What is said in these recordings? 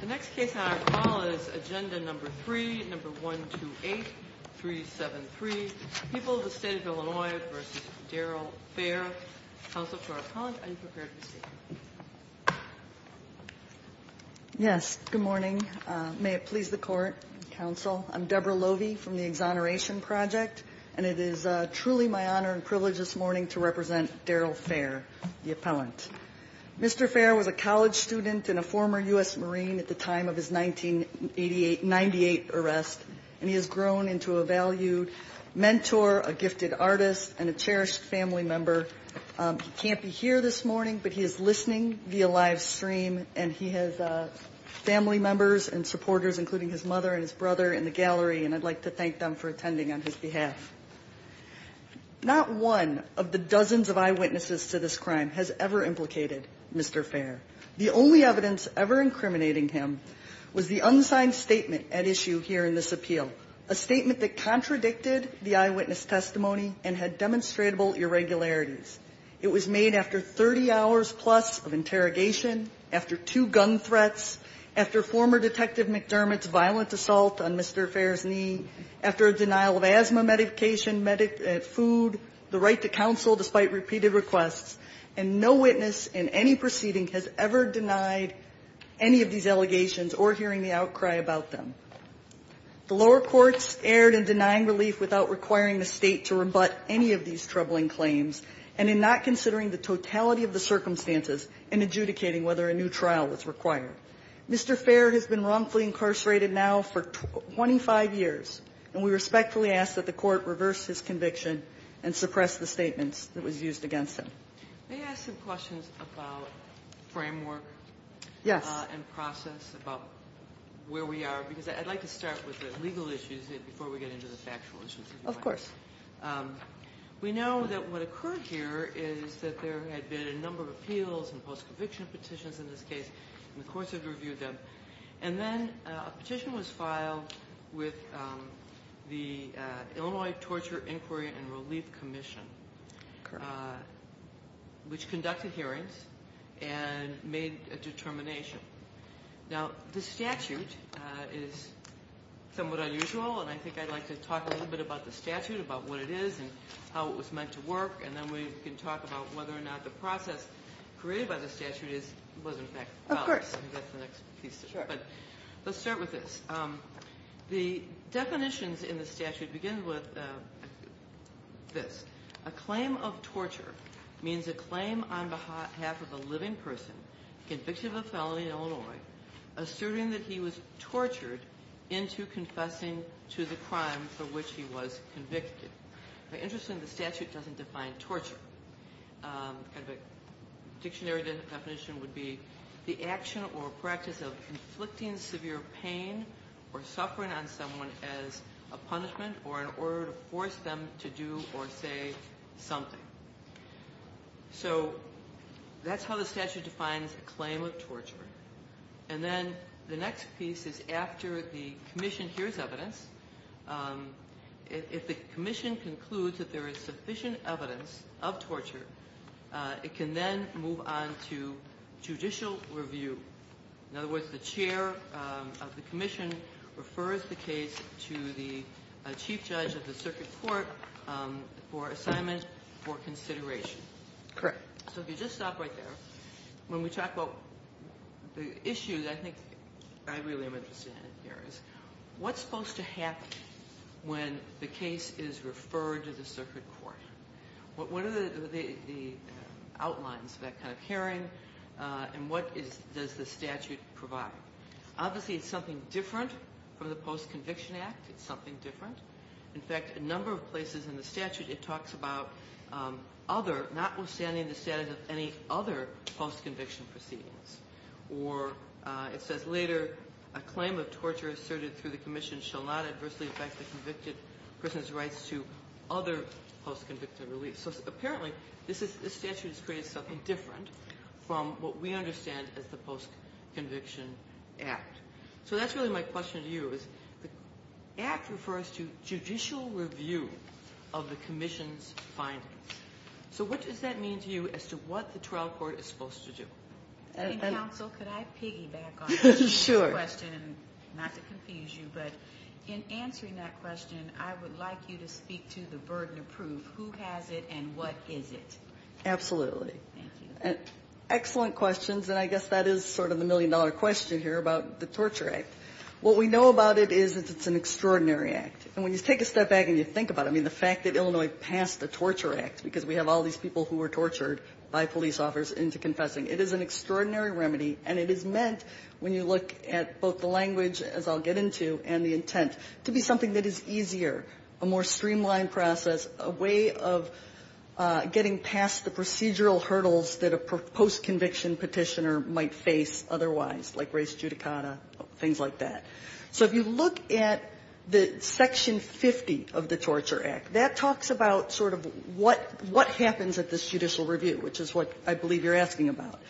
The next case on our call is Agenda No. 3, No. 128373, People of the State of Illinois v. Daryl Fair. Counsel to our appellant, are you prepared to speak? Yes, good morning. May it please the Court, Counsel. I'm Deborah Lovey from the Exoneration Project, and it is truly my honor and privilege this morning to represent Daryl Fair, the appellant. Mr. Fair was a college student and a former U.S. Marine at the time of his 1998 arrest, and he has grown into a valued mentor, a gifted artist, and a cherished family member. He can't be here this morning, but he is listening via live stream, and he has family members and supporters, including his mother and his brother in the gallery, and I'd like to thank them for attending on his behalf. Not one of the dozens of eyewitnesses to this crime has ever implicated Mr. Fair. The only evidence ever incriminating him was the unsigned statement at issue here in this appeal, a statement that contradicted the eyewitness testimony and had demonstrable irregularities. It was made after 30 hours plus of interrogation, after two gun threats, after former Detective McDermott's violent assault on Mr. Fair's knee, after a denial of asthma medication, food, the right to counsel despite repeated requests, and no witness in any proceeding has ever denied any of these allegations or hearing the outcry about them. The lower courts erred in denying relief without requiring the State to rebut any of these troubling claims and in not considering the totality of the circumstances and adjudicating whether a new trial was required. Mr. Fair has been wrongfully incarcerated now for 25 years, and we respectfully ask that the Court reverse his conviction and suppress the statements that was used against him. Kagan. May I ask some questions about framework? Yes. And process about where we are? Because I'd like to start with the legal issues before we get into the factual issues, if you like. Of course. We know that what occurred here is that there had been a number of appeals and post-conviction petitions in this case, and the courts have reviewed them. And then a petition was filed with the Illinois Torture, Inquiry, and Relief Commission, which conducted hearings and made a determination. Now, the statute is somewhat unusual, and I think I'd like to talk a little bit about the statute, about what it is and how it was meant to work, and then we can talk about whether or not the process created by the statute was, in fact, valid. Of course. I think that's the next piece. Sure. But let's start with this. The definitions in the statute begin with this. A claim of torture means a claim on behalf of a living person convicted of a felony in Illinois asserting that he was tortured into confessing to the crime for which he was convicted. Now, interestingly, the statute doesn't define torture. A dictionary definition would be the action or practice of inflicting severe pain or suffering on someone as a punishment or in order to force them to do or say something. So that's how the statute defines a claim of torture. And then the next piece is after the commission hears evidence. If the commission concludes that there is sufficient evidence of torture, it can then move on to judicial review. In other words, the chair of the commission refers the case to the chief judge of the circuit court for assignment for consideration. Correct. So if you just stop right there, when we talk about the issues, I think I really am interested in here is what's supposed to happen when the case is referred to the circuit court? What are the outlines of that kind of hearing and what does the statute provide? Obviously, it's something different from the Post-Conviction Act. It's something different. In fact, a number of places in the statute it talks about other, notwithstanding the status of any other post-conviction proceedings. Or it says later, a claim of torture asserted through the commission shall not adversely affect the convicted person's rights to other post-convicted reliefs. So apparently this statute has created something different from what we understand as the Post-Conviction Act. So that's really my question to you is the Act refers to judicial review of the commission's findings. So what does that mean to you as to what the trial court is supposed to do? And counsel, could I piggyback on that question? Sure. Not to confuse you, but in answering that question, I would like you to speak to the burden of proof. Who has it and what is it? Absolutely. Thank you. Excellent questions. And I guess that is sort of the million-dollar question here about the Torture Act. What we know about it is it's an extraordinary act. And when you take a step back and you think about it, I mean, the fact that Illinois passed the Torture Act, because we have all these people who were tortured by police officers into confessing, it is an extraordinary remedy. And it is meant, when you look at both the language, as I'll get into, and the intent, to be something that is easier, a more streamlined process, a way of getting past the procedural hurdles that a post-conviction petitioner might face otherwise, like race judicata, things like that. So if you look at the Section 50 of the Torture Act, that talks about sort of what happens at this judicial review, which is what I believe you're asking about.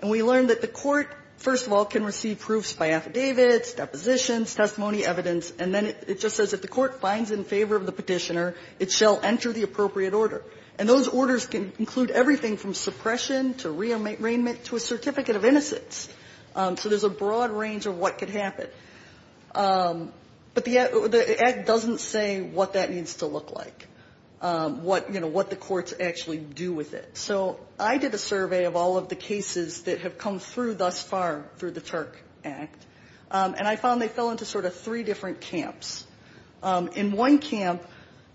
And we learned that the court, first of all, can receive proofs by affidavits, depositions, testimony, evidence. And then it just says if the court finds in favor of the petitioner, it shall enter the appropriate order. And those orders can include everything from suppression to rearrangement to a certificate of innocence. So there's a broad range of what could happen. But the Act doesn't say what that needs to look like, what the courts actually do with it. So I did a survey of all of the cases that have come through thus far through the Turk Act, and I found they fell into sort of three different camps. In one camp,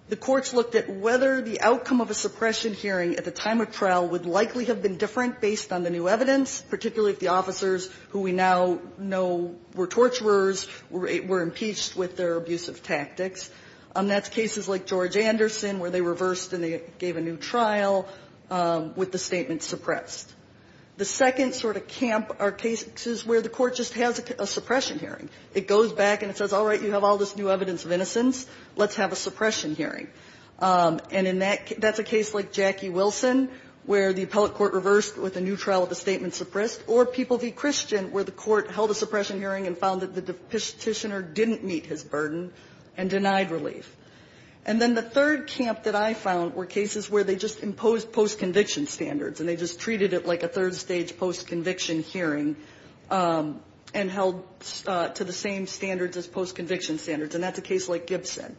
the courts looked at whether the outcome of a suppression hearing at the time of trial would likely have been different based on the new evidence, particularly if the officers, who we now know were torturers, were impeached with their abusive tactics. That's cases like George Anderson, where they reversed and they gave a new trial with the statement suppressed. The second sort of camp are cases where the court just has a suppression hearing. It goes back and it says, all right, you have all this new evidence of innocence. Let's have a suppression hearing. And in that, that's a case like Jackie Wilson, where the appellate court reversed with a new trial with a statement suppressed. Or People v. Christian, where the court held a suppression hearing and found that the petitioner didn't meet his burden and denied relief. And then the third camp that I found were cases where they just imposed post-conviction standards, and they just treated it like a third-stage post-conviction hearing and held to the same standards as post-conviction standards. And that's a case like Gibson.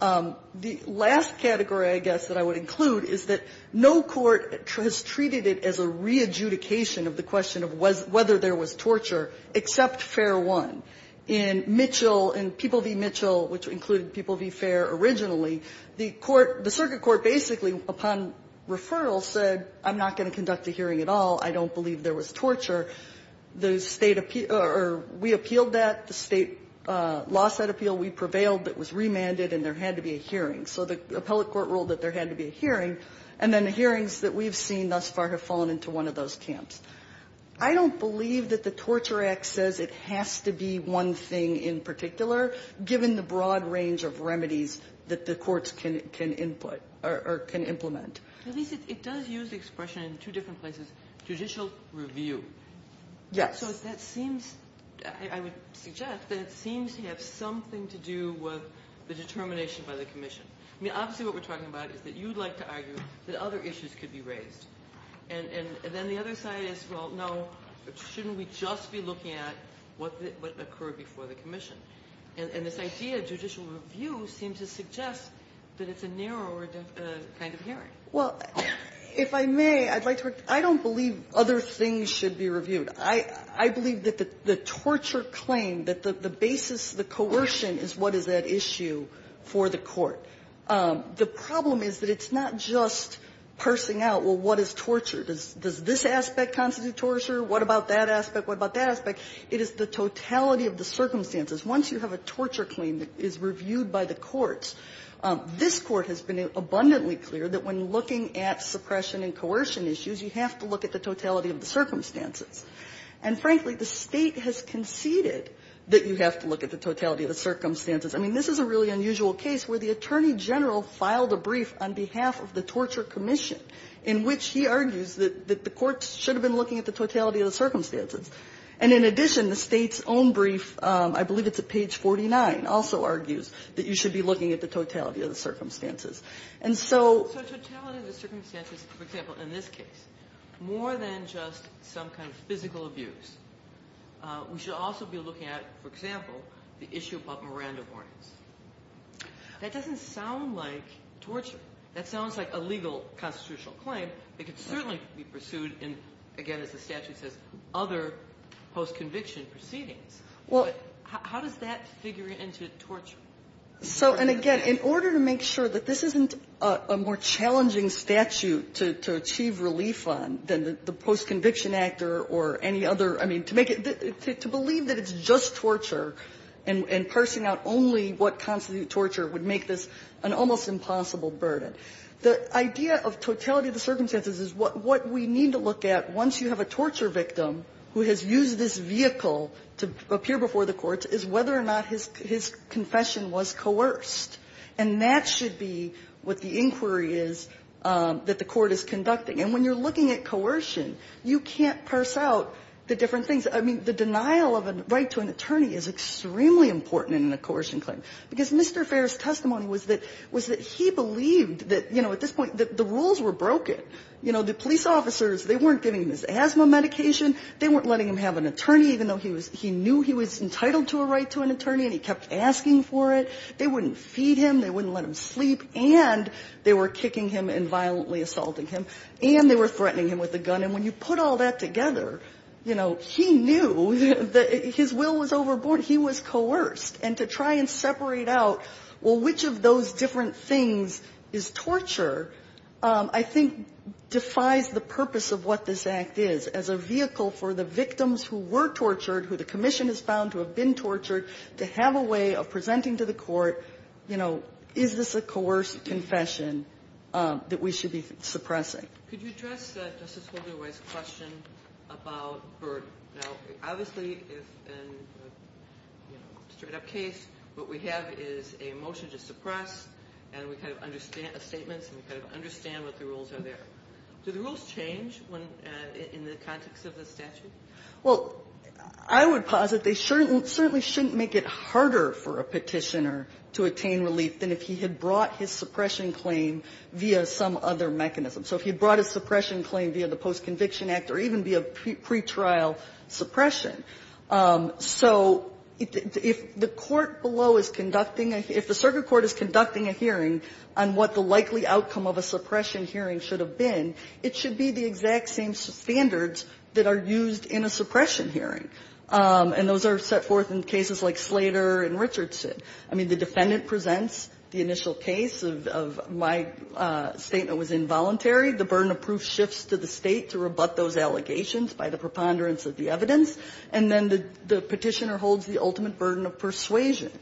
The last category, I guess, that I would include is that no court has treated it as a re-adjudication of the question of whether there was torture except Fair 1. In Mitchell, in People v. Mitchell, which included People v. Fair originally, the court, the circuit court basically upon referral said, I'm not going to conduct a hearing at all. I don't believe there was torture. The State or we appealed that. At the State lawsuit appeal, we prevailed, but it was remanded and there had to be a hearing. So the appellate court ruled that there had to be a hearing. And then the hearings that we've seen thus far have fallen into one of those camps. I don't believe that the Torture Act says it has to be one thing in particular, given the broad range of remedies that the courts can input or can implement. It does use the expression in two different places, judicial review. Yes. So that seems, I would suggest, that it seems to have something to do with the determination by the commission. I mean, obviously what we're talking about is that you'd like to argue that other issues could be raised. And then the other side is, well, no, shouldn't we just be looking at what occurred before the commission? And this idea of judicial review seems to suggest that it's a narrower kind of hearing. Well, if I may, I'd like to repeat, I don't believe other things should be reviewed. I believe that the torture claim, that the basis, the coercion is what is at issue for the court. The problem is that it's not just parsing out, well, what is torture? Does this aspect constitute torture? What about that aspect? What about that aspect? It is the totality of the circumstances. Once you have a torture claim that is reviewed by the courts, this Court has been abundantly clear that when looking at suppression and coercion issues, you have to look at the totality of the circumstances. And frankly, the State has conceded that you have to look at the totality of the circumstances. I mean, this is a really unusual case where the Attorney General filed a brief on behalf of the Torture Commission in which he argues that the courts should have been looking at the totality of the circumstances. And in addition, the State's own brief, I believe it's at page 49, also argues that you should be looking at the totality of the circumstances. And so the totality of the circumstances, for example, in this case. More than just some kind of physical abuse. We should also be looking at, for example, the issue about Miranda warnings. That doesn't sound like torture. That sounds like a legal constitutional claim that could certainly be pursued in, again, as the statute says, other post-conviction proceedings. But how does that figure into torture? So, and again, in order to make sure that this isn't a more challenging statute to achieve relief on than the post-conviction act or any other, I mean, to make it to believe that it's just torture and parsing out only what constitutes torture would make this an almost impossible burden. The idea of totality of the circumstances is what we need to look at once you have a torture victim who has used this vehicle to appear before the courts is whether or not his confession was coerced. And that should be what the inquiry is that the Court is conducting. And when you're looking at coercion, you can't parse out the different things. I mean, the denial of a right to an attorney is extremely important in a coercion claim, because Mr. Fair's testimony was that he believed that, you know, at this point, that the rules were broken. You know, the police officers, they weren't giving him his asthma medication. They weren't letting him have an attorney, even though he knew he was entitled to a right to an attorney, and he kept asking for it. They wouldn't feed him. They wouldn't let him sleep. And they were kicking him and violently assaulting him. And they were threatening him with a gun. And when you put all that together, you know, he knew that his will was overboard. He was coerced. And to try and separate out, well, which of those different things is torture, I think defies the purpose of what this Act is as a vehicle for the victims who were being tortured to have a way of presenting to the court, you know, is this a coerced confession that we should be suppressing. Could you address Justice Holderway's question about burden? Now, obviously, in a straight-up case, what we have is a motion to suppress, and we kind of understand the statements, and we kind of understand what the rules are there. Do the rules change in the context of the statute? Well, I would posit they certainly shouldn't make it harder for a Petitioner to attain relief than if he had brought his suppression claim via some other mechanism. So if he brought his suppression claim via the Post-Conviction Act or even via pretrial suppression, so if the court below is conducting a – if the circuit court is conducting a hearing on what the likely outcome of a suppression hearing should have been, it should be the exact same standards that are used in a suppression hearing. And those are set forth in cases like Slater and Richardson. I mean, the defendant presents the initial case of my statement was involuntary. The burden of proof shifts to the State to rebut those allegations by the preponderance of the evidence. And then the Petitioner holds the ultimate burden of persuasion.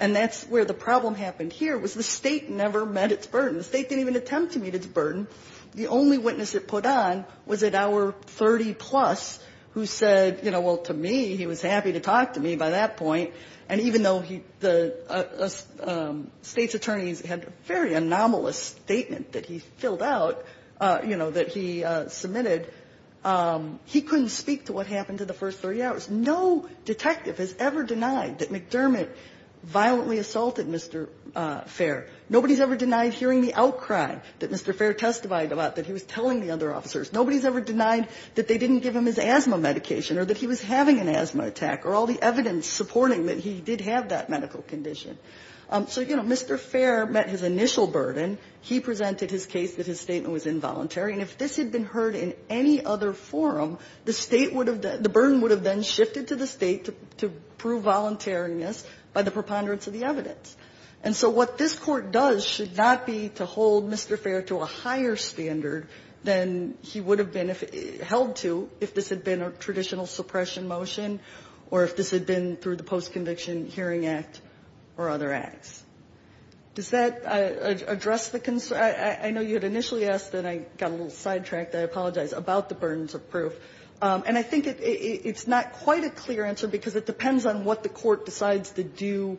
And that's where the problem happened here, was the State never met its burden. The State didn't even attempt to meet its burden. The only witness it put on was an hour-30-plus who said, you know, well, to me, he was happy to talk to me by that point. And even though the State's attorneys had a very anomalous statement that he filled out, you know, that he submitted, he couldn't speak to what happened to the first 30 hours. No detective has ever denied that McDermott violently assaulted Mr. Fair. Nobody has ever denied hearing the outcry that Mr. Fair testified about that he was telling the other officers. Nobody has ever denied that they didn't give him his asthma medication or that he was having an asthma attack or all the evidence supporting that he did have that medical condition. So, you know, Mr. Fair met his initial burden. He presented his case that his statement was involuntary. And if this had been heard in any other forum, the State would have been the burden would have been shifted to the State to prove voluntariness by the preponderance of the evidence. And so what this Court does should not be to hold Mr. Fair to a higher standard than he would have been if held to if this had been a traditional suppression motion or if this had been through the Post-Conviction Hearing Act or other acts. Does that address the concern? I know you had initially asked, and I got a little sidetracked. I apologize, about the burdens of proof. And I think it's not quite a clear answer because it depends on what the Court decides to do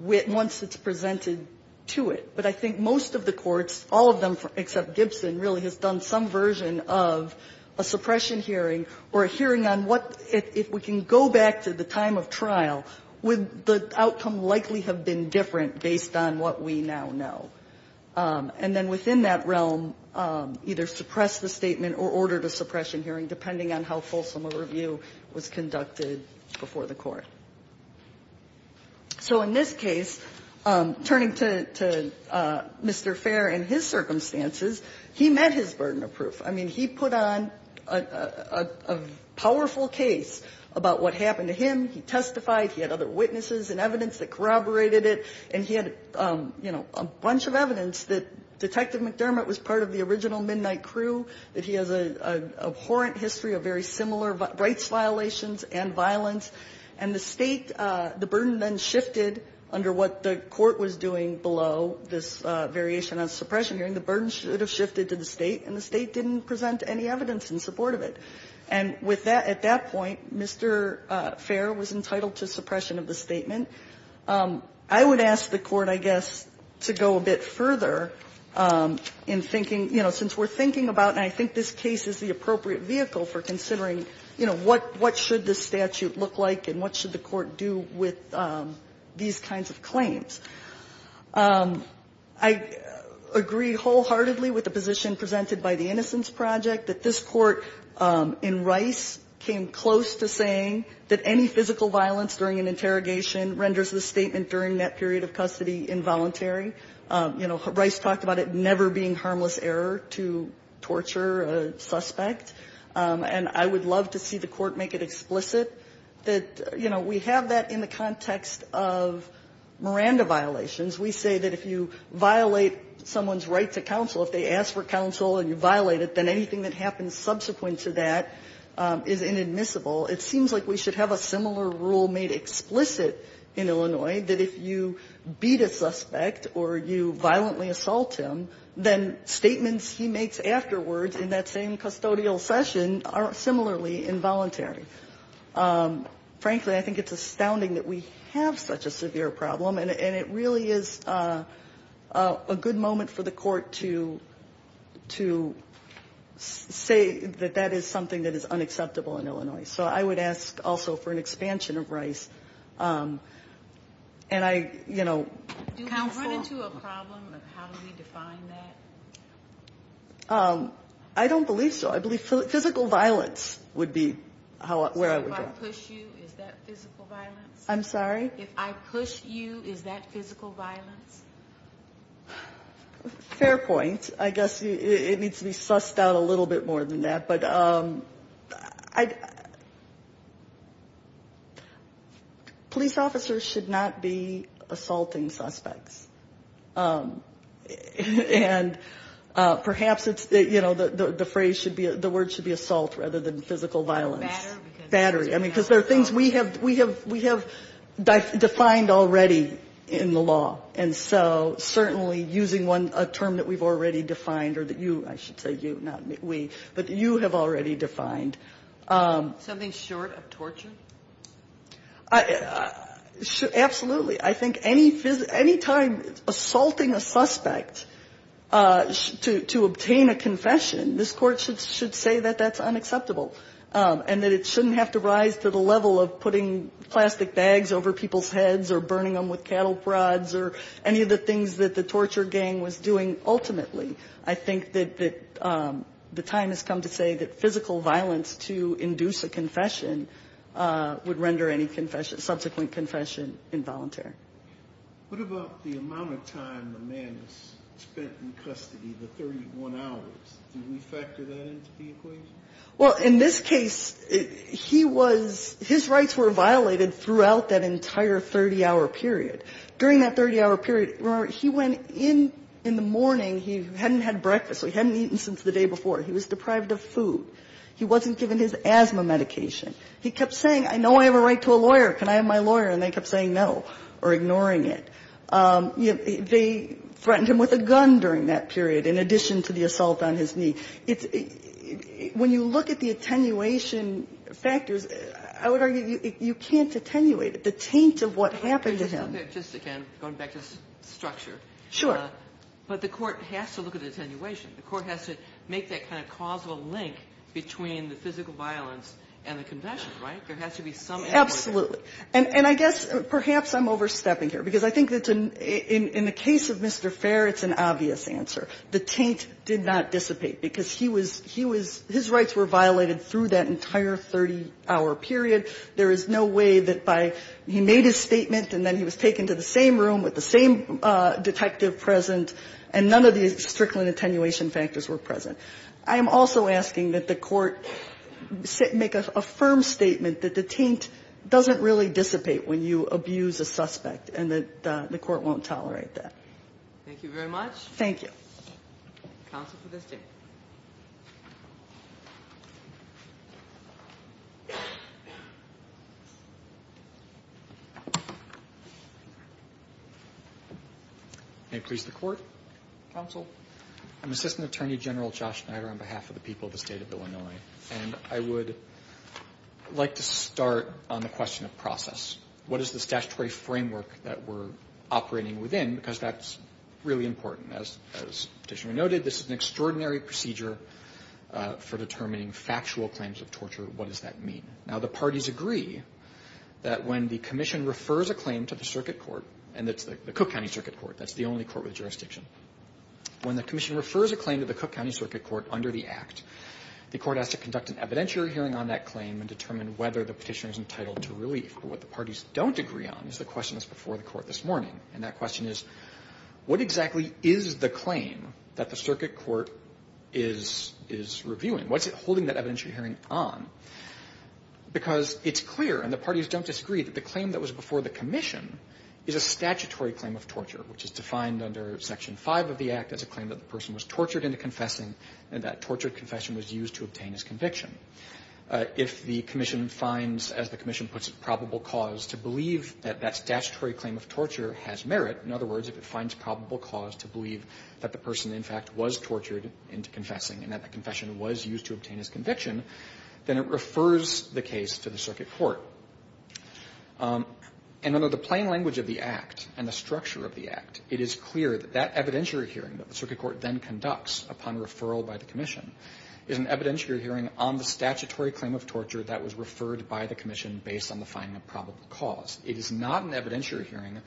once it's presented to it. But I think most of the courts, all of them except Gibson, really has done some version of a suppression hearing or a hearing on what, if we can go back to the time of trial, would the outcome likely have been different based on what we now know? And then within that realm, either suppress the statement or order the suppression hearing depending on how fulsome a review was conducted before the Court. So in this case, turning to Mr. Fair and his circumstances, he met his burden of proof. I mean, he put on a powerful case about what happened to him. He testified. He had other witnesses and evidence that corroborated it. And he had, you know, a bunch of evidence that Detective McDermott was part of the original Midnight Crew, that he has an abhorrent history of very similar rights violations and violence. And the State, the burden then shifted under what the Court was doing below this variation on suppression hearing. The burden should have shifted to the State, and the State didn't present any evidence in support of it. And with that, at that point, Mr. Fair was entitled to suppression of the statement. I would ask the Court, I guess, to go a bit further in thinking, you know, since we're thinking about, and I think this case is the appropriate vehicle for considering, you know, what should the statute look like and what should the Court do with these kinds of claims. I agree wholeheartedly with the position presented by the Innocence Project, that this Court in Rice came close to saying that any physical violence during an interrogation renders the statement during that period of custody involuntary. You know, Rice talked about it never being harmless error to torture a suspect. And I would love to see the Court make it explicit that, you know, we have that in the context of Miranda violations. We say that if you violate someone's right to counsel, if they ask for counsel and you violate it, then anything that happens subsequent to that is inadmissible. It seems like we should have a similar rule made explicit in Illinois that if you beat a suspect or you violently assault him, then statements he makes afterwards in that same custodial session are similarly involuntary. Frankly, I think it's astounding that we have such a severe problem, and it really is a good moment for the Court to say that that is something that is unacceptable in Illinois. So I would ask also for an expansion of Rice. And I, you know, counsel. Do we run into a problem of how do we define that? I don't believe so. I believe physical violence would be where I would go. So if I push you, is that physical violence? I'm sorry? If I push you, is that physical violence? Fair point. I guess it needs to be sussed out a little bit more than that. But police officers should not be assaulting suspects. And perhaps it's, you know, the phrase should be, the word should be assault rather than physical violence. Battery. I mean, because there are things we have defined already in the law. And so certainly using a term that we've already defined or that you, I should say you, not we, but you have already defined. Something short of torture? Absolutely. I think any time assaulting a suspect to obtain a confession, this Court should say that that's unacceptable. And that it shouldn't have to rise to the level of putting plastic bags over people's heads or burning them with cattle prods or any of the things that the torture gang was doing ultimately. I think that the time has come to say that physical violence to induce a confession would render any subsequent confession involuntary. What about the amount of time the man has spent in custody, the 31 hours? Do we factor that in to be acceptable? Well, in this case, he was his rights were violated throughout that entire 30-hour period. During that 30-hour period, remember, he went in in the morning. He hadn't had breakfast. He hadn't eaten since the day before. He was deprived of food. He wasn't given his asthma medication. He kept saying, I know I have a right to a lawyer. Can I have my lawyer? And they kept saying no or ignoring it. They threatened him with a gun during that period, in addition to the assault on his knee. When you look at the attenuation factors, I would argue you can't attenuate it. The taint of what happened to him. Just again, going back to structure. Sure. But the Court has to look at the attenuation. The Court has to make that kind of causal link between the physical violence and the confession, right? There has to be some ambiguity. Absolutely. And I guess perhaps I'm overstepping here, because I think that in the case of Mr. Fair, it's an obvious answer. The taint did not dissipate, because he was his rights were violated through that entire 30-hour period. There is no way that by he made his statement and then he was taken to the same room with the same detective present, and none of the strickland attenuation factors were present. I am also asking that the Court make a firm statement that the taint doesn't really dissipate when you abuse a suspect, and that the Court won't tolerate that. Thank you very much. Thank you. Counsel for this day. May it please the Court. Counsel. I'm Assistant Attorney General Josh Snyder on behalf of the people of the State of Illinois. And I would like to start on the question of process. What is the statutory framework that we're operating within? Because that's really important. As Petitioner noted, this is an extraordinary procedure for determining factual claims of torture. What does that mean? Now, the parties agree that when the Commission refers a claim to the circuit court, and it's the Cook County Circuit Court. That's the only court with jurisdiction. When the Commission refers a claim to the Cook County Circuit Court under the Act, the Court has to conduct an evidentiary hearing on that claim and determine whether the Petitioner is entitled to relief. But what the parties don't agree on is the question that's before the Court this morning. And that question is, what exactly is the claim that the circuit court is reviewing? What's it holding that evidentiary hearing on? Because it's clear, and the parties don't disagree, that the claim that was before the Commission is a statutory claim of torture, which is defined under Section 5 of the Act as a claim that the person was tortured into confessing, and that tortured confession was used to obtain his conviction. If the Commission finds, as the Commission puts it, probable cause to believe that that statutory claim of torture has merit, in other words, if it finds probable cause to believe that the person, in fact, was tortured into confessing and that that confession was used to obtain his conviction, then it refers the case to the circuit court. And under the plain language of the Act and the structure of the Act, it is clear that that evidentiary hearing that the circuit court then conducts upon referral by the Commission is an evidentiary hearing on the statutory claim of torture that was referred by the Commission based on the finding of probable cause. It is not an evidentiary hearing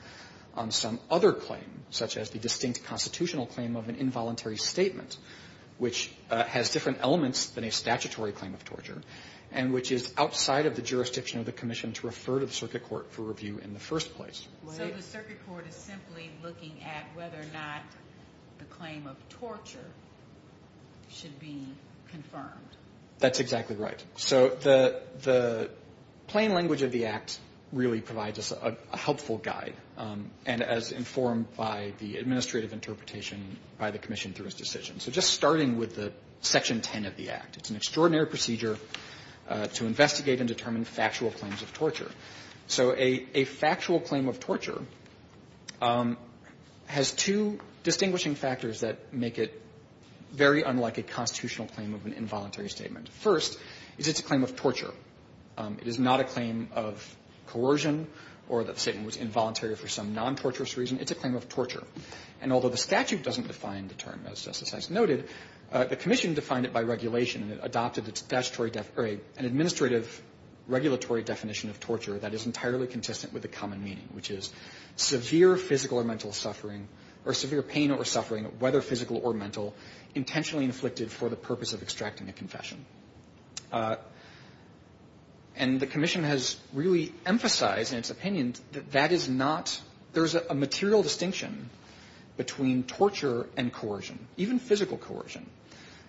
on some other claim, such as the distinct constitutional claim of an involuntary statement, which has different elements than a statutory claim of torture, and which is outside of the jurisdiction of the Commission to refer to the circuit court for review in the first place. So the circuit court is simply looking at whether or not the claim of torture should be confirmed. That's exactly right. So the plain language of the Act really provides us a helpful guide, and as informed by the administrative interpretation by the Commission through its decision. So just starting with the Section 10 of the Act, it's an extraordinary procedure to investigate and determine factual claims of torture. So a factual claim of torture has two distinguishing factors that make it very unlike a constitutional claim of an involuntary statement. First is it's a claim of torture. It is not a claim of coercion or that the statement was involuntary for some non-torturous reason. It's a claim of torture. And although the statute doesn't define the term, as Justice Session noted, the Commission defined it by regulation, and it adopted an administrative regulatory definition of torture that is entirely consistent with the common meaning, which is severe physical or mental suffering or severe pain or suffering, whether physical or mental, intentionally inflicted for the purpose of extracting a confession. And the Commission has really emphasized in its opinion that that is not – there's a material distinction between torture and coercion, even physical coercion.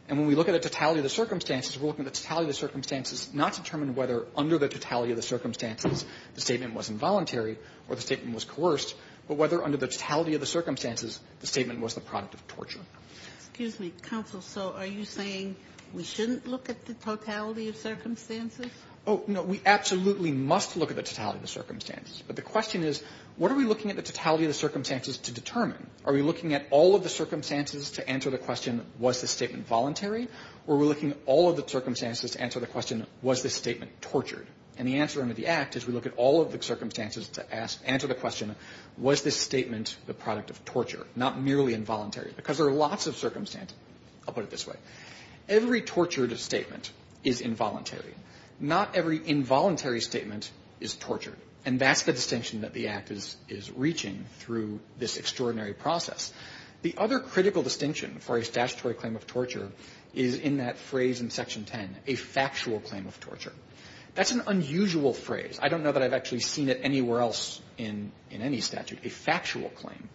And when we look at totality of the circumstances, we're looking to the totality of the circumstances, not determine whether under the totality of the circumstances the statement was involuntary or the statement was coerced, but whether under the totality of the circumstances, the statement was a product of torture. Ginsburg. Excuse me, Counsel. So are you saying we shouldn't look at the totality of circumstances? Oh, no. We absolutely must look at the totality of circumstances. But the question is, what are we looking at the totality of the circumstances to determine? Are we looking at all of the circumstances to answer the question, was the statement voluntary? Or are we looking at all of the circumstances to answer the question, was the statement tortured? And the answer under the Act is we look at all of the circumstances to ask, answer the question, was this statement the product of torture, not merely involuntary because there are lots of circumstances. I'll put it this way. Every tortured statement is involuntary. Not every involuntary statement is tortured. And that's the distinction that the Act is reaching through this extraordinary process. The other critical distinction for a statutory claim of torture is in that phrase in Section 10, a factual claim of torture. That's an unusual phrase. I don't know that I've actually seen it anywhere else in any statute, a factual claim.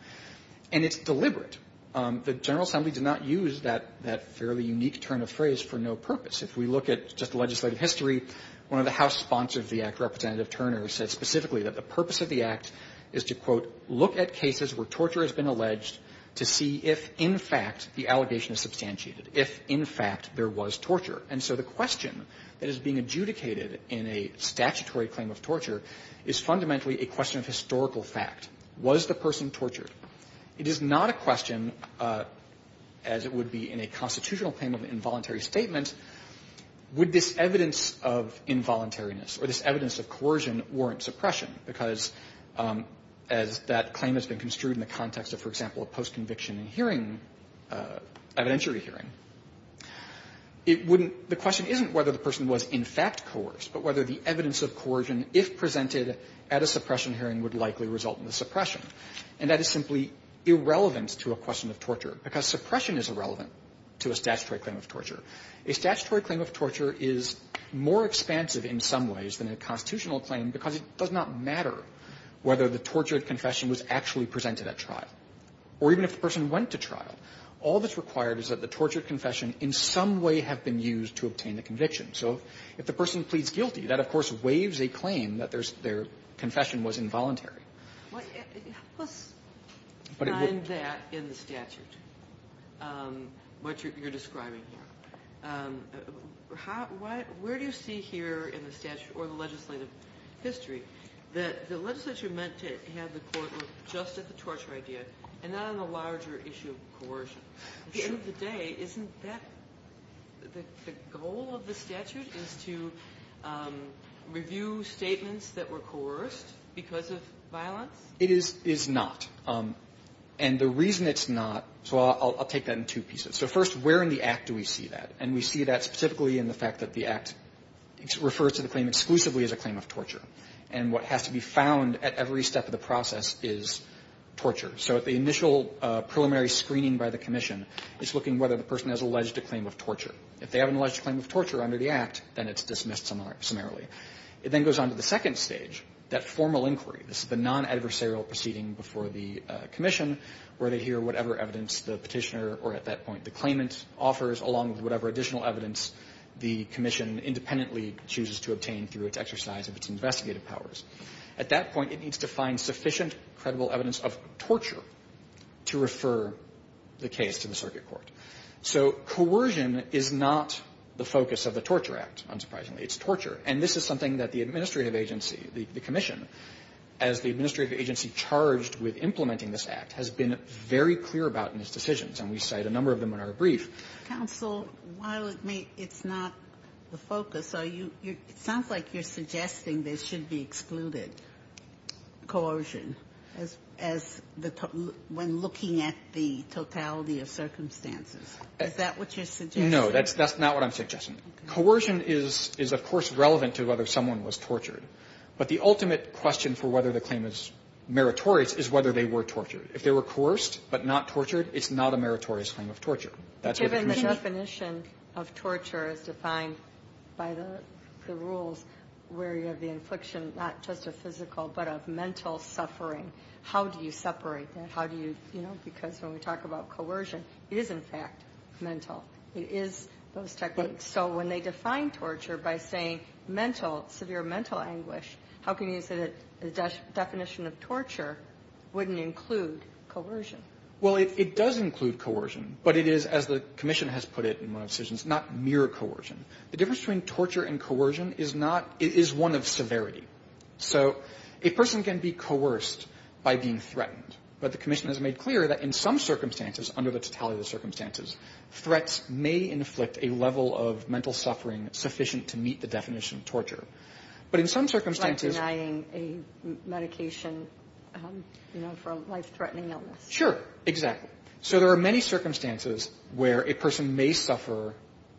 And it's deliberate. The General Assembly did not use that fairly unique turn of phrase for no purpose. If we look at just legislative history, one of the House sponsors of the Act, Representative Turner, said specifically that the purpose of the Act is to, quote, look at cases where torture has been alleged to see if, in fact, the allegation is substantiated, if, in fact, there was torture. And so the question that is being adjudicated in a statutory claim of torture is fundamentally a question of historical fact. Was the person tortured? It is not a question, as it would be in a constitutional claim of involuntary statement, would this evidence of involuntariness or this evidence of coercion warrant suppression? Because as that claim has been construed in the context of, for example, a post-conviction hearing, evidentiary hearing, it wouldn't – the question isn't whether the person was, in fact, coerced, but whether the evidence of coercion, if presented at a suppression hearing, would likely result in the suppression. And that is simply irrelevant to a question of torture, because suppression is irrelevant to a statutory claim of torture. A statutory claim of torture is more expansive in some ways than a constitutional claim, because it does not matter whether the tortured confession was actually presented at trial, or even if the person went to trial. All that's required is that the tortured confession in some way have been used to obtain the conviction. So if the person pleads guilty, that, of course, waives a claim that their confession was involuntary. Let's find that in the statute, what you're describing here. Where do you see here in the statute or the legislative history that the legislature meant to have the court look just at the torture idea and not on the larger issue of coercion? At the end of the day, isn't that – the goal of the statute is to review statements that were coerced because of violence? It is not. And the reason it's not – so I'll take that in two pieces. So first, where in the Act do we see that? And we see that specifically in the fact that the Act refers to the claim exclusively as a claim of torture. And what has to be found at every step of the process is torture. So at the initial preliminary screening by the commission, it's looking whether the person has alleged a claim of torture. If they have an alleged claim of torture under the Act, then it's dismissed summarily. It then goes on to the second stage, that formal inquiry. This is the non-adversarial proceeding before the commission where they hear whatever evidence the Petitioner or at that point the claimant offers, along with whatever additional evidence the commission independently chooses to obtain through its exercise of its investigative powers. At that point, it needs to find sufficient credible evidence of torture to refer the case to the circuit court. So coercion is not the focus of the Torture Act, unsurprisingly. It's torture. And this is something that the administrative agency, the commission, as the administrative agency charged with implementing this Act, has been very clear about in its decisions. And we cite a number of them in our brief. Ginsburg. Counsel, while it's not the focus, are you – it sounds like you're suggesting there should be excluded coercion as the – when looking at the totality of circumstances. That's not what I'm suggesting. Coercion is, of course, relevant to whether someone was tortured. But the ultimate question for whether the claim is meritorious is whether they were tortured. If they were coerced but not tortured, it's not a meritorious claim of torture. That's what the commission – Given the definition of torture as defined by the rules where you have the infliction not just of physical but of mental suffering, how do you separate that? How do you – you know, because when we talk about coercion, it is, in fact, mental. It is those techniques. So when they define torture by saying mental, severe mental anguish, how can you say that the definition of torture wouldn't include coercion? Well, it does include coercion. But it is, as the commission has put it in one of its decisions, not mere coercion. The difference between torture and coercion is not – it is one of severity. So a person can be coerced by being threatened. But the commission has made clear that in some circumstances, under the totality of the circumstances, threats may inflict a level of mental suffering sufficient to meet the definition of torture. But in some circumstances – Like denying a medication, you know, for a life-threatening illness. Sure. Exactly. So there are many circumstances where a person may suffer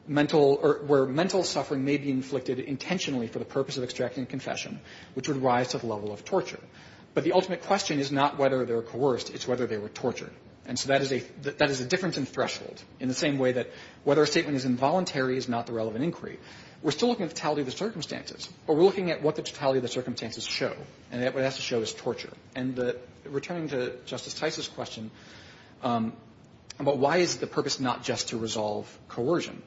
mental – or where mental suffering may be inflicted intentionally for the purpose of extracting a confession, which would rise to the level of torture. But the ultimate question is not whether they were coerced. It's whether they were tortured. And so that is a difference in threshold, in the same way that whether a statement is involuntary is not the relevant inquiry. We're still looking at the totality of the circumstances, but we're looking at what the totality of the circumstances show. And what it has to show is torture. And returning to Justice Tice's question about why is the purpose not just to resolve coercion,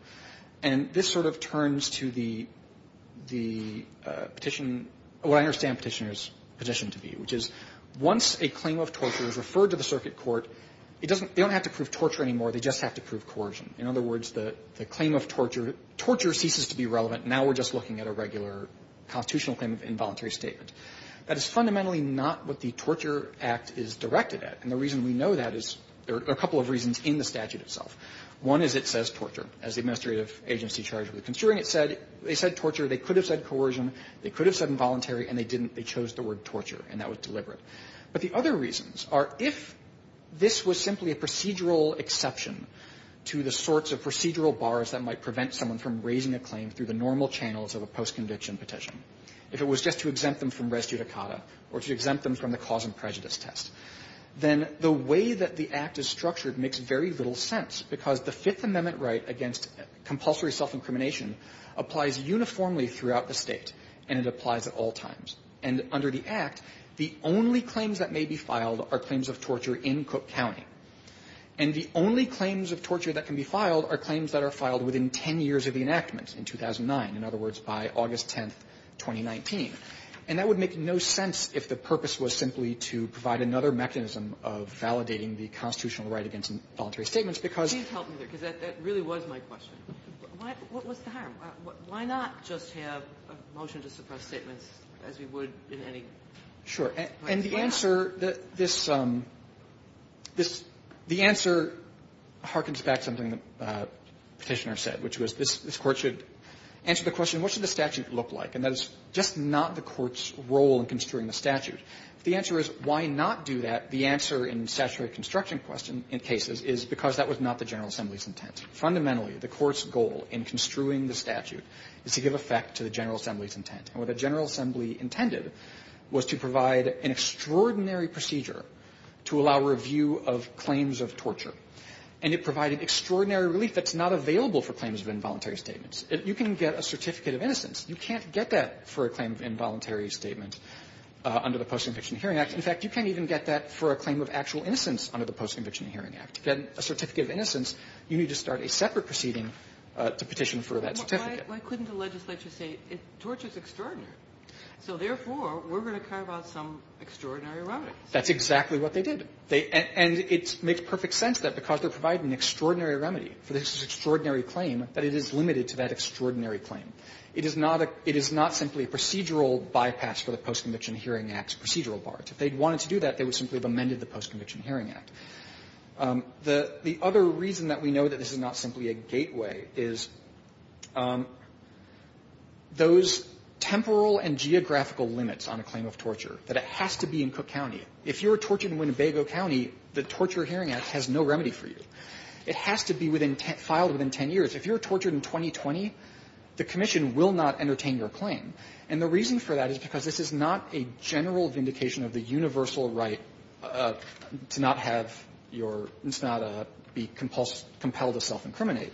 and this sort of turns to the petition – what I understand Petitioner's petition to be, which is once a claim of torture is referred to the circuit court, it doesn't – they don't have to prove torture anymore. They just have to prove coercion. In other words, the claim of torture – torture ceases to be relevant. Now we're just looking at a regular constitutional claim of involuntary statement. That is fundamentally not what the Torture Act is directed at. And the reason we know that is – there are a couple of reasons in the statute itself. One is it says torture. As the administrative agency charged with construing it said, they said torture. They could have said coercion. They could have said involuntary. And they didn't. They chose the word torture. And that was deliberate. But the other reasons are if this was simply a procedural exception to the sorts of procedural bars that might prevent someone from raising a claim through the normal channels of a post-conviction petition, if it was just to exempt them from res judicata or to exempt them from the cause and prejudice test, then the way that the Act is structured makes very little sense, because the Fifth Amendment right against compulsory self-incrimination applies uniformly throughout the State, and it applies at all times. And under the Act, the only claims that may be filed are claims of torture in Cook County. And the only claims of torture that can be filed are claims that are filed within 10 years of the enactment, in 2009, in other words, by August 10, 2019. And that would make no sense if the purpose was simply to provide another mechanism of validating the constitutional right against involuntary statements, because that really was my question. What was the harm? Why not just have a motion to suppress statements as we would in any right? Sure. And the answer, this the answer harkens back to something the Petitioner said, which was this Court should answer the question, what should the statute look like? And that is just not the Court's role in construing the statute. If the answer is why not do that, the answer in statutory construction questions in cases is because that was not the General Assembly's intent. Fundamentally, the Court's goal in construing the statute is to give effect to the General Assembly's intent. And what the General Assembly intended was to provide an extraordinary procedure to allow review of claims of torture, and it provided extraordinary relief that's not available for claims of involuntary statements. You can get a certificate of innocence. You can't get that for a claim of involuntary statement under the Post-Conviction Hearing Act. In fact, you can't even get that for a claim of actual innocence under the Post-Conviction Hearing Act. To get a certificate of innocence, you need to start a separate proceeding to petition for that certificate. Why couldn't the legislature say, torture is extraordinary, so therefore, we're going to carve out some extraordinary remedy? That's exactly what they did. And it makes perfect sense that because they're providing an extraordinary remedy for this extraordinary claim, that it is limited to that extraordinary claim. It is not simply a procedural bypass for the Post-Conviction Hearing Act procedural bar. If they wanted to do that, they would simply have amended the Post-Conviction Hearing Act. The other reason that we know that this is not simply a gateway is those temporal and geographical limits on a claim of torture, that it has to be in Cook County. If you're tortured in Winnebago County, the Torture Hearing Act has no remedy for you. It has to be within 10, filed within 10 years. If you're tortured in 2020, the commission will not entertain your claim. And the reason for that is because this is not a general vindication of the universal right to not have your – to not be compelled to self-incriminate.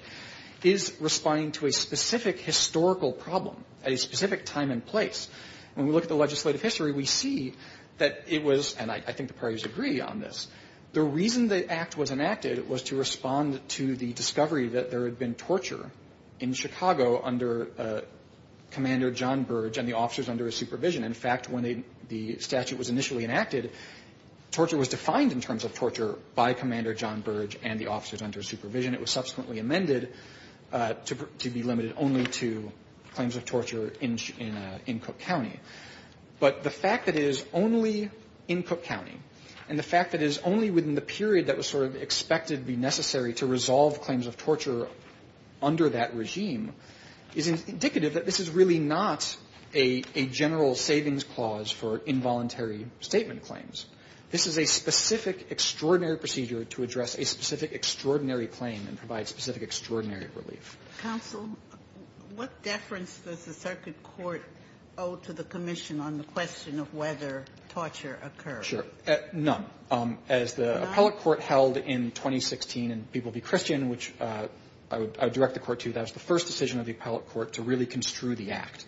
It is responding to a specific historical problem at a specific time and place. When we look at the legislative history, we see that it was – and I think the parties agree on this – the reason the Act was enacted was to respond to the discovery that there had been torture in Chicago under Commander John Burge and the officers under his supervision. In fact, when the statute was initially enacted, torture was defined in terms of torture by Commander John Burge and the officers under his supervision. It was subsequently amended to be limited only to claims of torture in Cook County. But the fact that it is only in Cook County, and the fact that it is only within the period that was sort of expected to be necessary to resolve claims of torture under that regime, is indicative that this is really not a general savings clause for involuntary statement claims. This is a specific extraordinary procedure to address a specific extraordinary claim and provide specific extraordinary relief. Ginsburg. What deference does the circuit court owe to the commission on the question of whether torture occurred? Sure. None. As the appellate court held in 2016 in People Be Christian, which I would direct the Court to, that was the first decision of the appellate court to really construe the Act.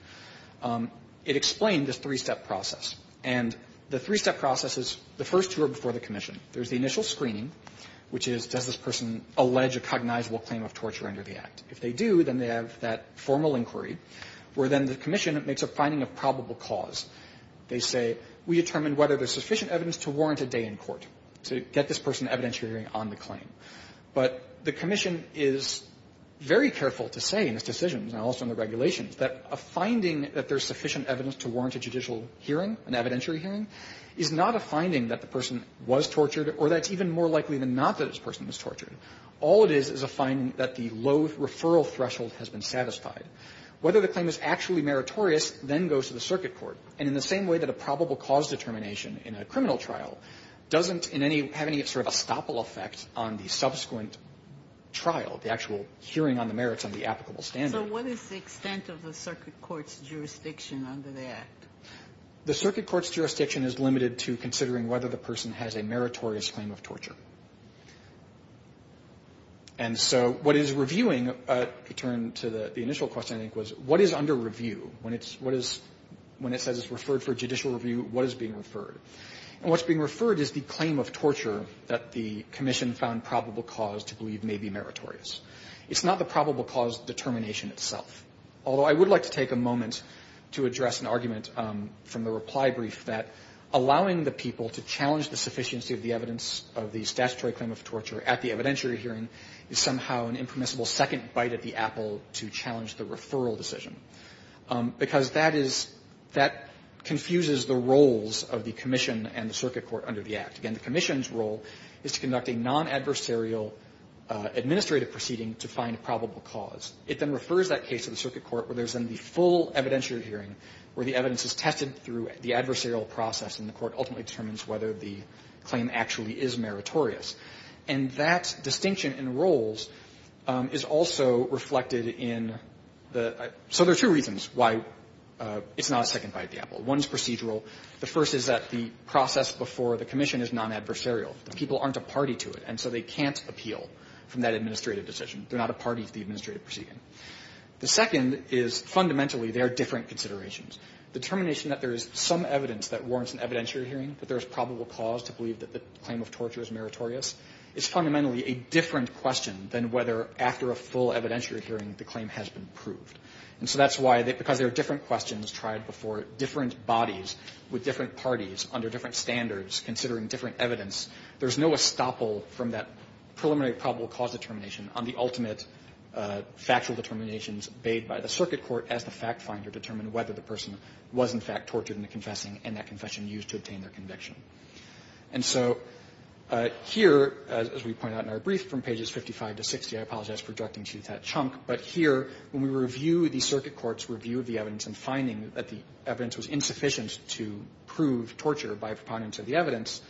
It explained the three-step process. And the three-step process is the first two are before the commission. There is the initial screening, which is, does this person allege a cognizable claim of torture under the Act? If they do, then they have that formal inquiry, where then the commission makes a finding of probable cause. They say, we determine whether there is sufficient evidence to warrant a day in court to get this person evidentiary on the claim. But the commission is very careful to say in its decisions and also in the regulations that a finding that there is sufficient evidence to warrant a judicial hearing, an evidentiary hearing, is not a finding that the person was tortured or that it's even more likely than not that this person was tortured. All it is is a finding that the low referral threshold has been satisfied. Whether the claim is actually meritorious then goes to the circuit court. And in the same way that a probable cause determination in a criminal trial doesn't in any have any sort of estoppel effect on the subsequent trial, the actual hearing on the merits on the applicable standard. So what is the extent of the circuit court's jurisdiction under the Act? The circuit court's jurisdiction is limited to considering whether the person has a meritorious claim of torture. And so what is reviewing, to return to the initial question, I think, was what is under referred for judicial review, what is being referred? And what's being referred is the claim of torture that the commission found probable cause to believe may be meritorious. It's not the probable cause determination itself. Although I would like to take a moment to address an argument from the reply brief that allowing the people to challenge the sufficiency of the evidence of the statutory claim of torture at the evidentiary hearing is somehow an impermissible second bite at the apple to challenge the referral decision. Because that is, that confuses the roles of the commission and the circuit court under the Act. Again, the commission's role is to conduct a non-adversarial administrative proceeding to find a probable cause. It then refers that case to the circuit court where there's then the full evidentiary hearing where the evidence is tested through the adversarial process and the court ultimately determines whether the claim actually is meritorious. And that distinction in roles is also reflected in the – so there are two reasons why it's not a second bite at the apple. One is procedural. The first is that the process before the commission is non-adversarial. The people aren't a party to it, and so they can't appeal from that administrative decision. They're not a party to the administrative proceeding. The second is fundamentally they are different considerations. Determination that there is some evidence that warrants an evidentiary hearing, that there is probable cause to believe that the claim of torture is meritorious is fundamentally a different question than whether after a full evidentiary hearing the claim has been proved. And so that's why, because there are different questions tried before different bodies with different parties under different standards considering different evidence, there's no estoppel from that preliminary probable cause determination on the ultimate factual determinations bade by the circuit court as the fact finder determined whether the person was in fact tortured in the confessing and that confession used to obtain their conviction. And so here, as we point out in our brief, from pages 55 to 60, I apologize for directing to that chunk, but here when we review the circuit court's review of the evidence and finding that the evidence was insufficient to prove torture by a preponderance of the evidence,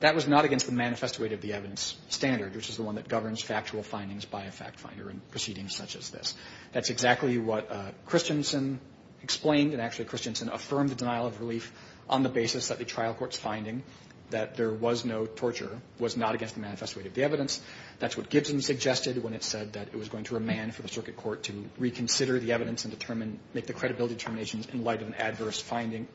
that was not against the manifest weight of the evidence standard, which is the one that governs factual findings by a fact finder in proceedings such as this. That's exactly what Christensen explained, and actually Christensen affirmed the denial of relief on the basis that the trial court's finding that there was no torture was not against the manifest weight of the evidence. That's what Gibson suggested when it said that it was going to remand for the circuit court to reconsider the evidence and determine, make the credibility determinations in light of an adverse finding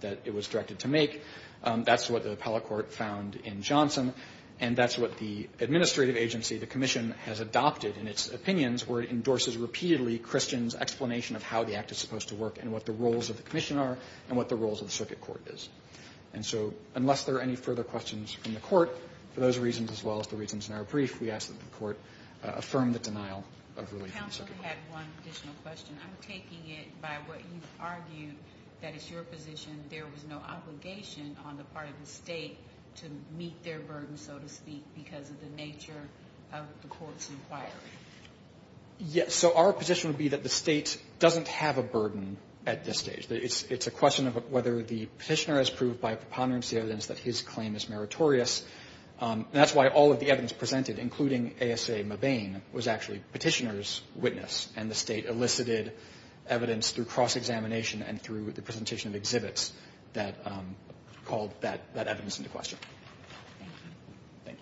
that it was directed to make. That's what the appellate court found in Johnson, and that's what the administrative agency, the commission, has adopted in its opinions where it endorses repeatedly Christian's explanation of how the act is supposed to work and what the roles of the commission are and what the roles of the circuit court is. And so unless there are any further questions from the court, for those reasons as well as the reasons in our brief, we ask that the court affirm the denial of relief on the circuit court. Counsel had one additional question. I'm taking it by what you've argued, that it's your position there was no obligation on the part of the State to meet their burden, so to speak, because of the nature of the court's inquiry. Yes, so our position would be that the State doesn't have a burden at this stage. It's a question of whether the petitioner has proved by preponderance the evidence that his claim is meritorious, and that's why all of the evidence presented, including ASA Mabane, was actually petitioner's witness, and the State elicited evidence through cross-examination and through the presentation of exhibits that called that evidence into question. Thank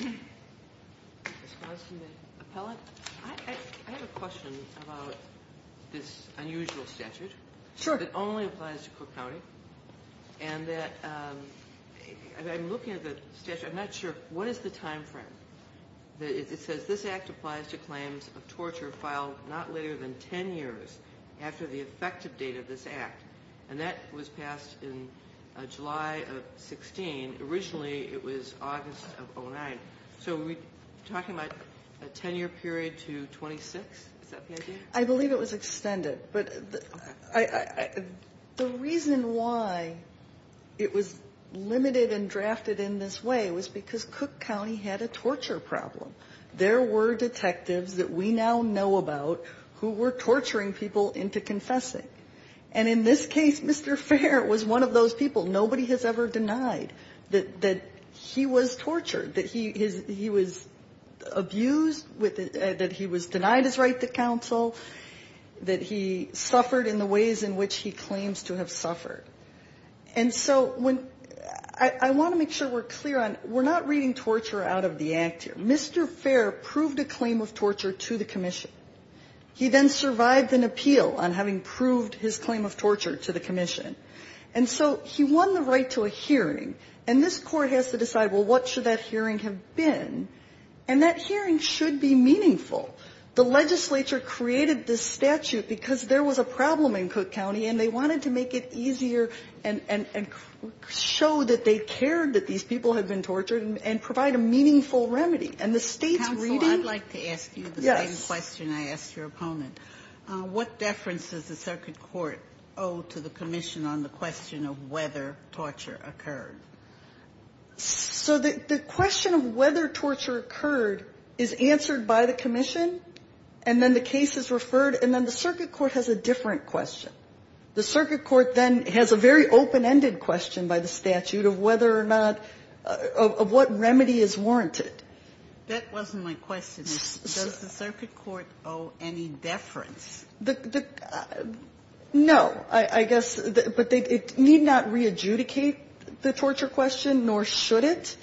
you. In response to the appellant, I have a question about this unusual statute that only applies to Cook County, and that I'm looking at the statute. I'm not sure what is the time frame. It says this act applies to claims of torture filed not later than 10 years after the effective date of this act, and that was passed in July of 16. Originally, it was August of 09. So are we talking about a 10-year period to 26? Is that the idea? I believe it was extended, but the reason why it was limited and drafted in this way was because Cook County had a torture problem. There were detectives that we now know about who were torturing people into confessing, and in this case, Mr. Fair was one of those people. Nobody has ever denied that he was tortured, that he was abused, that he was denied his right to counsel, that he suffered in the ways in which he claims to have suffered. And so I want to make sure we're clear on, we're not reading torture out of the act here. Mr. Fair proved a claim of torture to the commission. He then survived an appeal on having proved his claim of torture to the commission. And so he won the right to a hearing, and this Court has to decide, well, what should that hearing have been? And that hearing should be meaningful. The legislature created this statute because there was a problem in Cook County, and they wanted to make it easier and show that they cared that these people had been tortured and provide a meaningful remedy. And the State's reading the same question I asked your opponent. What deference does the circuit court owe to the commission on the question of whether torture occurred? So the question of whether torture occurred is answered by the commission, and then the case is referred, and then the circuit court has a different question. The circuit court then has a very open-ended question by the statute of whether or not, of what remedy is warranted. Sotomayor, that wasn't my question. Does the circuit court owe any deference? No. I guess, but it need not re-adjudicate the torture question, nor should it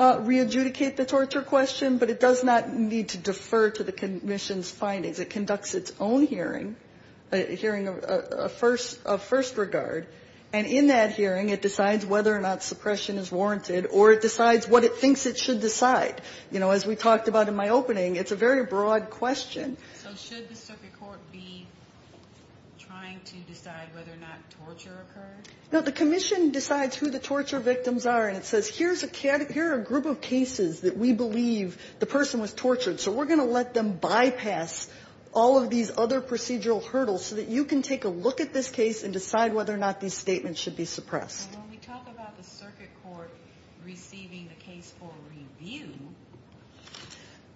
re-adjudicate the torture question, but it does not need to defer to the commission's findings. It conducts its own hearing, a hearing of first regard, and in that hearing, it decides whether or not suppression is warranted, or it decides what it thinks it should decide. As we talked about in my opening, it's a very broad question. So should the circuit court be trying to decide whether or not torture occurred? No, the commission decides who the torture victims are, and it says, here are a group of cases that we believe the person was tortured, so we're going to let them bypass all of these other procedural hurdles so that you can take a look at this case and decide whether or not these statements should be suppressed. So when we talk about the circuit court receiving a case for review,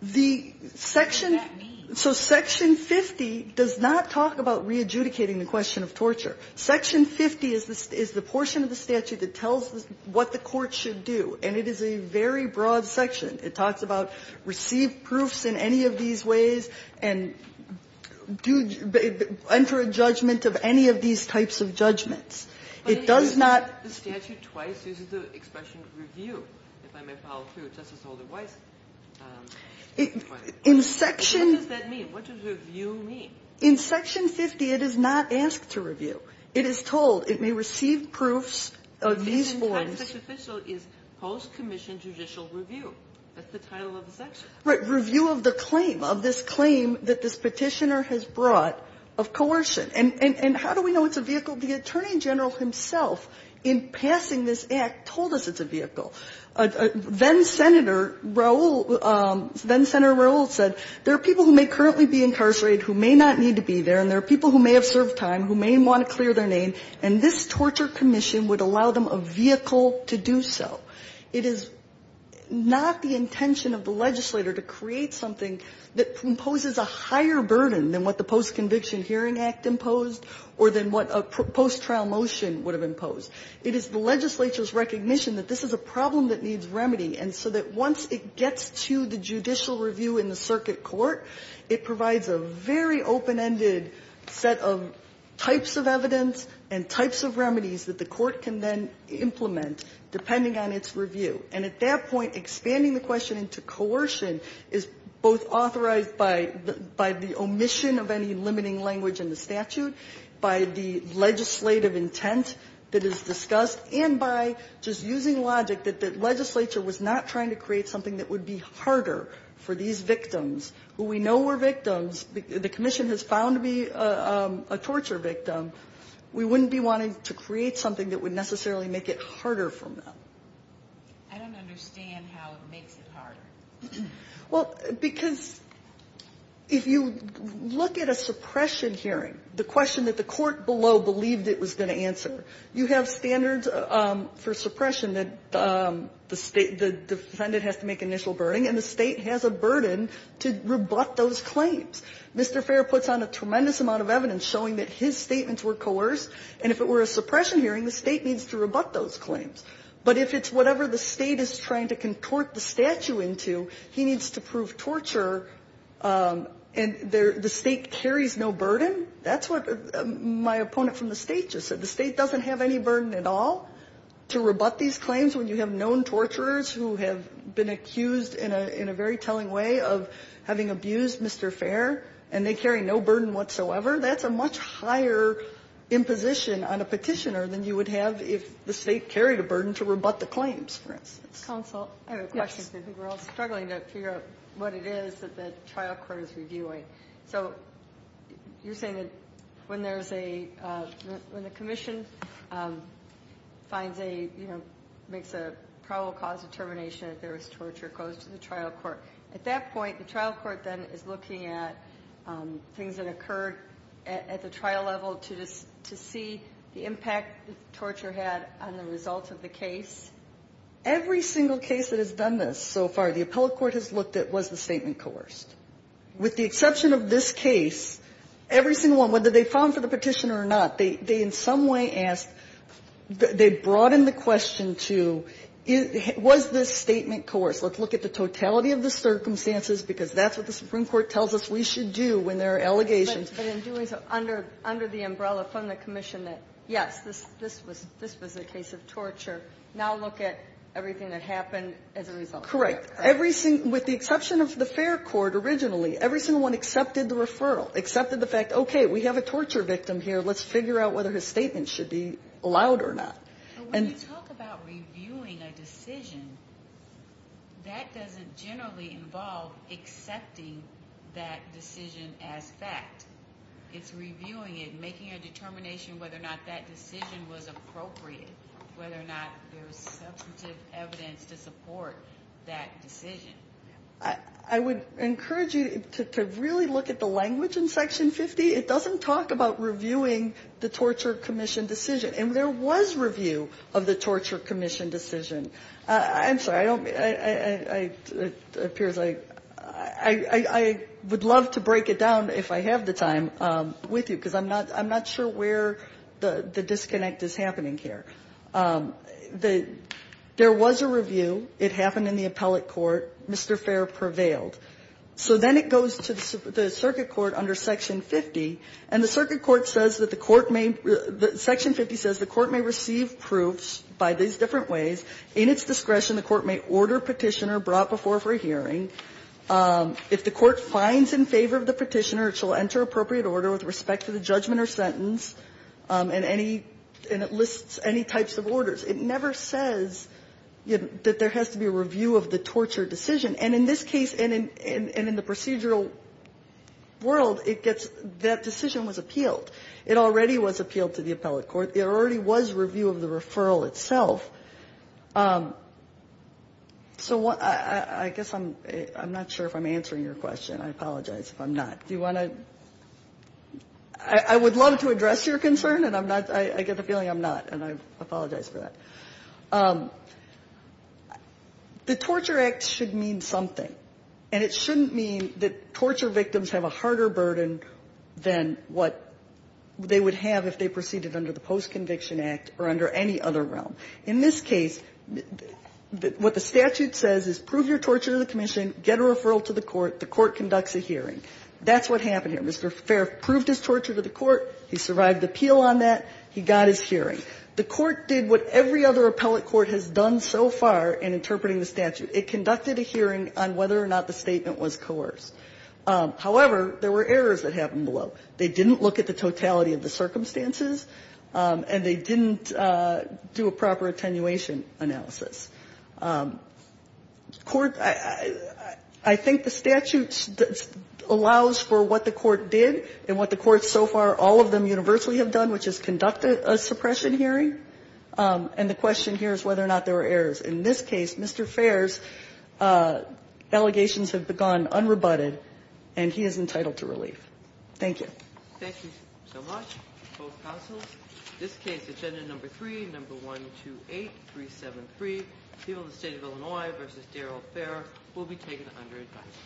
what does that mean? So Section 50 does not talk about re-adjudicating the question of torture. Section 50 is the portion of the statute that tells what the court should do, and it is a very broad section. It talks about receive proofs in any of these ways and enter a judgment of any of these types of judgments. It does not ---- But it uses the statute twice. It uses the expression review, if I may follow through. Justice Holder Weiss ---- In Section ---- What does that mean? What does review mean? In Section 50, it is not asked to review. It is told it may receive proofs of these forms. This in Texas official is post-commission judicial review. That's the title of the section. Right. Review of the claim, of this claim that this Petitioner has brought of coercion. And how do we know it's a vehicle? The Attorney General himself, in passing this Act, told us it's a vehicle. Then-Senator Raul, then-Senator Raul said there are people who may currently be incarcerated who may not need to be there, and there are people who may have served time who may want to clear their name, and this torture commission would allow them a vehicle to do so. It is not the intention of the legislator to create something that imposes a higher burden than what the Post-Conviction Hearing Act imposed or than what a post-trial motion would have imposed. It is the legislature's recognition that this is a problem that needs remedy, and so that once it gets to the judicial review in the circuit court, it provides a very open-ended set of types of evidence and types of remedies that the court can then implement, depending on its review. And at that point, expanding the question into coercion is both authorized by the omission of any limiting language in the statute, by the legislative intent that is discussed, and by just using logic that the legislature was not trying to create something that would be harder for these victims, who we know were victims. The commission has found to be a torture victim. We wouldn't be wanting to create something that would necessarily make it harder from them. I don't understand how it makes it harder. Well, because if you look at a suppression hearing, the question that the court below believed it was going to answer, you have standards for suppression that the State the defendant has to make initial burden, and the State has a burden to rebut those claims. Mr. Fair puts on a tremendous amount of evidence showing that his statements were coerced, and if it were a suppression hearing, the State needs to rebut those claims. But if it's whatever the State is trying to contort the statute into, he needs to prove torture, and the State carries no burden, that's what my opponent from the State just said. The State doesn't have any burden at all to rebut these claims when you have known torturers who have been accused in a very telling way of having abused Mr. Fair, and they carry no burden whatsoever. That's a much higher imposition on a Petitioner than you would have if the State carried a burden to rebut the claims, for instance. Counsel, I have a question because I think we're all struggling to figure out what it is that the trial court is reviewing. So, you're saying that when there's a...when the Commission finds a, you know, makes a probable cause determination that there was torture, it goes to the trial court. At that point, the trial court then is looking at things that occurred at the trial level to see the impact that the torture had on the results of the case? Every single case that has done this so far, the appellate court has looked at was the statement coerced. With the exception of this case, every single one, whether they found for the Petitioner or not, they in some way asked, they brought in the question to, was this statement coerced? Let's look at the totality of the circumstances, because that's what the Supreme Court tells us we should do when there are allegations. But in doing so, under the umbrella from the Commission that, yes, this was a case of torture, now look at everything that happened as a result. Correct. With the exception of the fair court originally, every single one accepted the referral, accepted the fact, okay, we have a torture victim here, let's figure out whether his statement should be allowed or not. But when you talk about reviewing a decision, that doesn't generally involve accepting that decision as fact. It's reviewing it, making a determination whether or not that decision was appropriate, whether or not there was substantive evidence to support that decision. I would encourage you to really look at the language in Section 50. It doesn't talk about reviewing the Torture Commission decision. And there was review of the Torture Commission decision. I'm sorry, I don't, it appears I, I would love to break it down if I have the time with you, because I'm not, I'm not sure where the disconnect is happening here. The, there was a review, it happened in the appellate court, Mr. Fair prevailed. So then it goes to the circuit court under Section 50, and the circuit court says that the court may, Section 50 says the court may receive proofs by these different ways. In its discretion, the court may order petitioner brought before for hearing. If the court finds in favor of the petitioner, it shall enter appropriate order with respect to the judgment or sentence and any, and it lists any types of orders. It never says that there has to be a review of the torture decision. And in this case, and in the procedural world, it gets, that decision was appealed. It already was appealed to the appellate court. It already was review of the referral itself. So what, I guess I'm, I'm not sure if I'm answering your question. I apologize if I'm not. Do you want to, I would love to address your concern, and I'm not, I get the feeling I'm not, and I apologize for that. The Torture Act should mean something, and it shouldn't mean that torture victims have a harder burden than what they would have if they proceeded under the Post-Court Conviction Act or under any other realm. In this case, what the statute says is prove your torture to the commission, get a referral to the court, the court conducts a hearing. That's what happened here. Mr. Farriff proved his torture to the court, he survived the appeal on that, he got his hearing. The court did what every other appellate court has done so far in interpreting the statute. It conducted a hearing on whether or not the statement was coerced. However, there were errors that happened below. They didn't look at the totality of the circumstances, and they didn't do a proper attenuation analysis. Court, I think the statute allows for what the court did and what the court so far, all of them universally have done, which is conduct a suppression hearing. And the question here is whether or not there were errors. In this case, Mr. Farriff's allegations have gone unrebutted, and he is entitled to relief. Thank you. Thank you so much, both counsels. This case, agenda number three, number 128373, people of the state of Illinois versus Darrell Fair, will be taken under advice.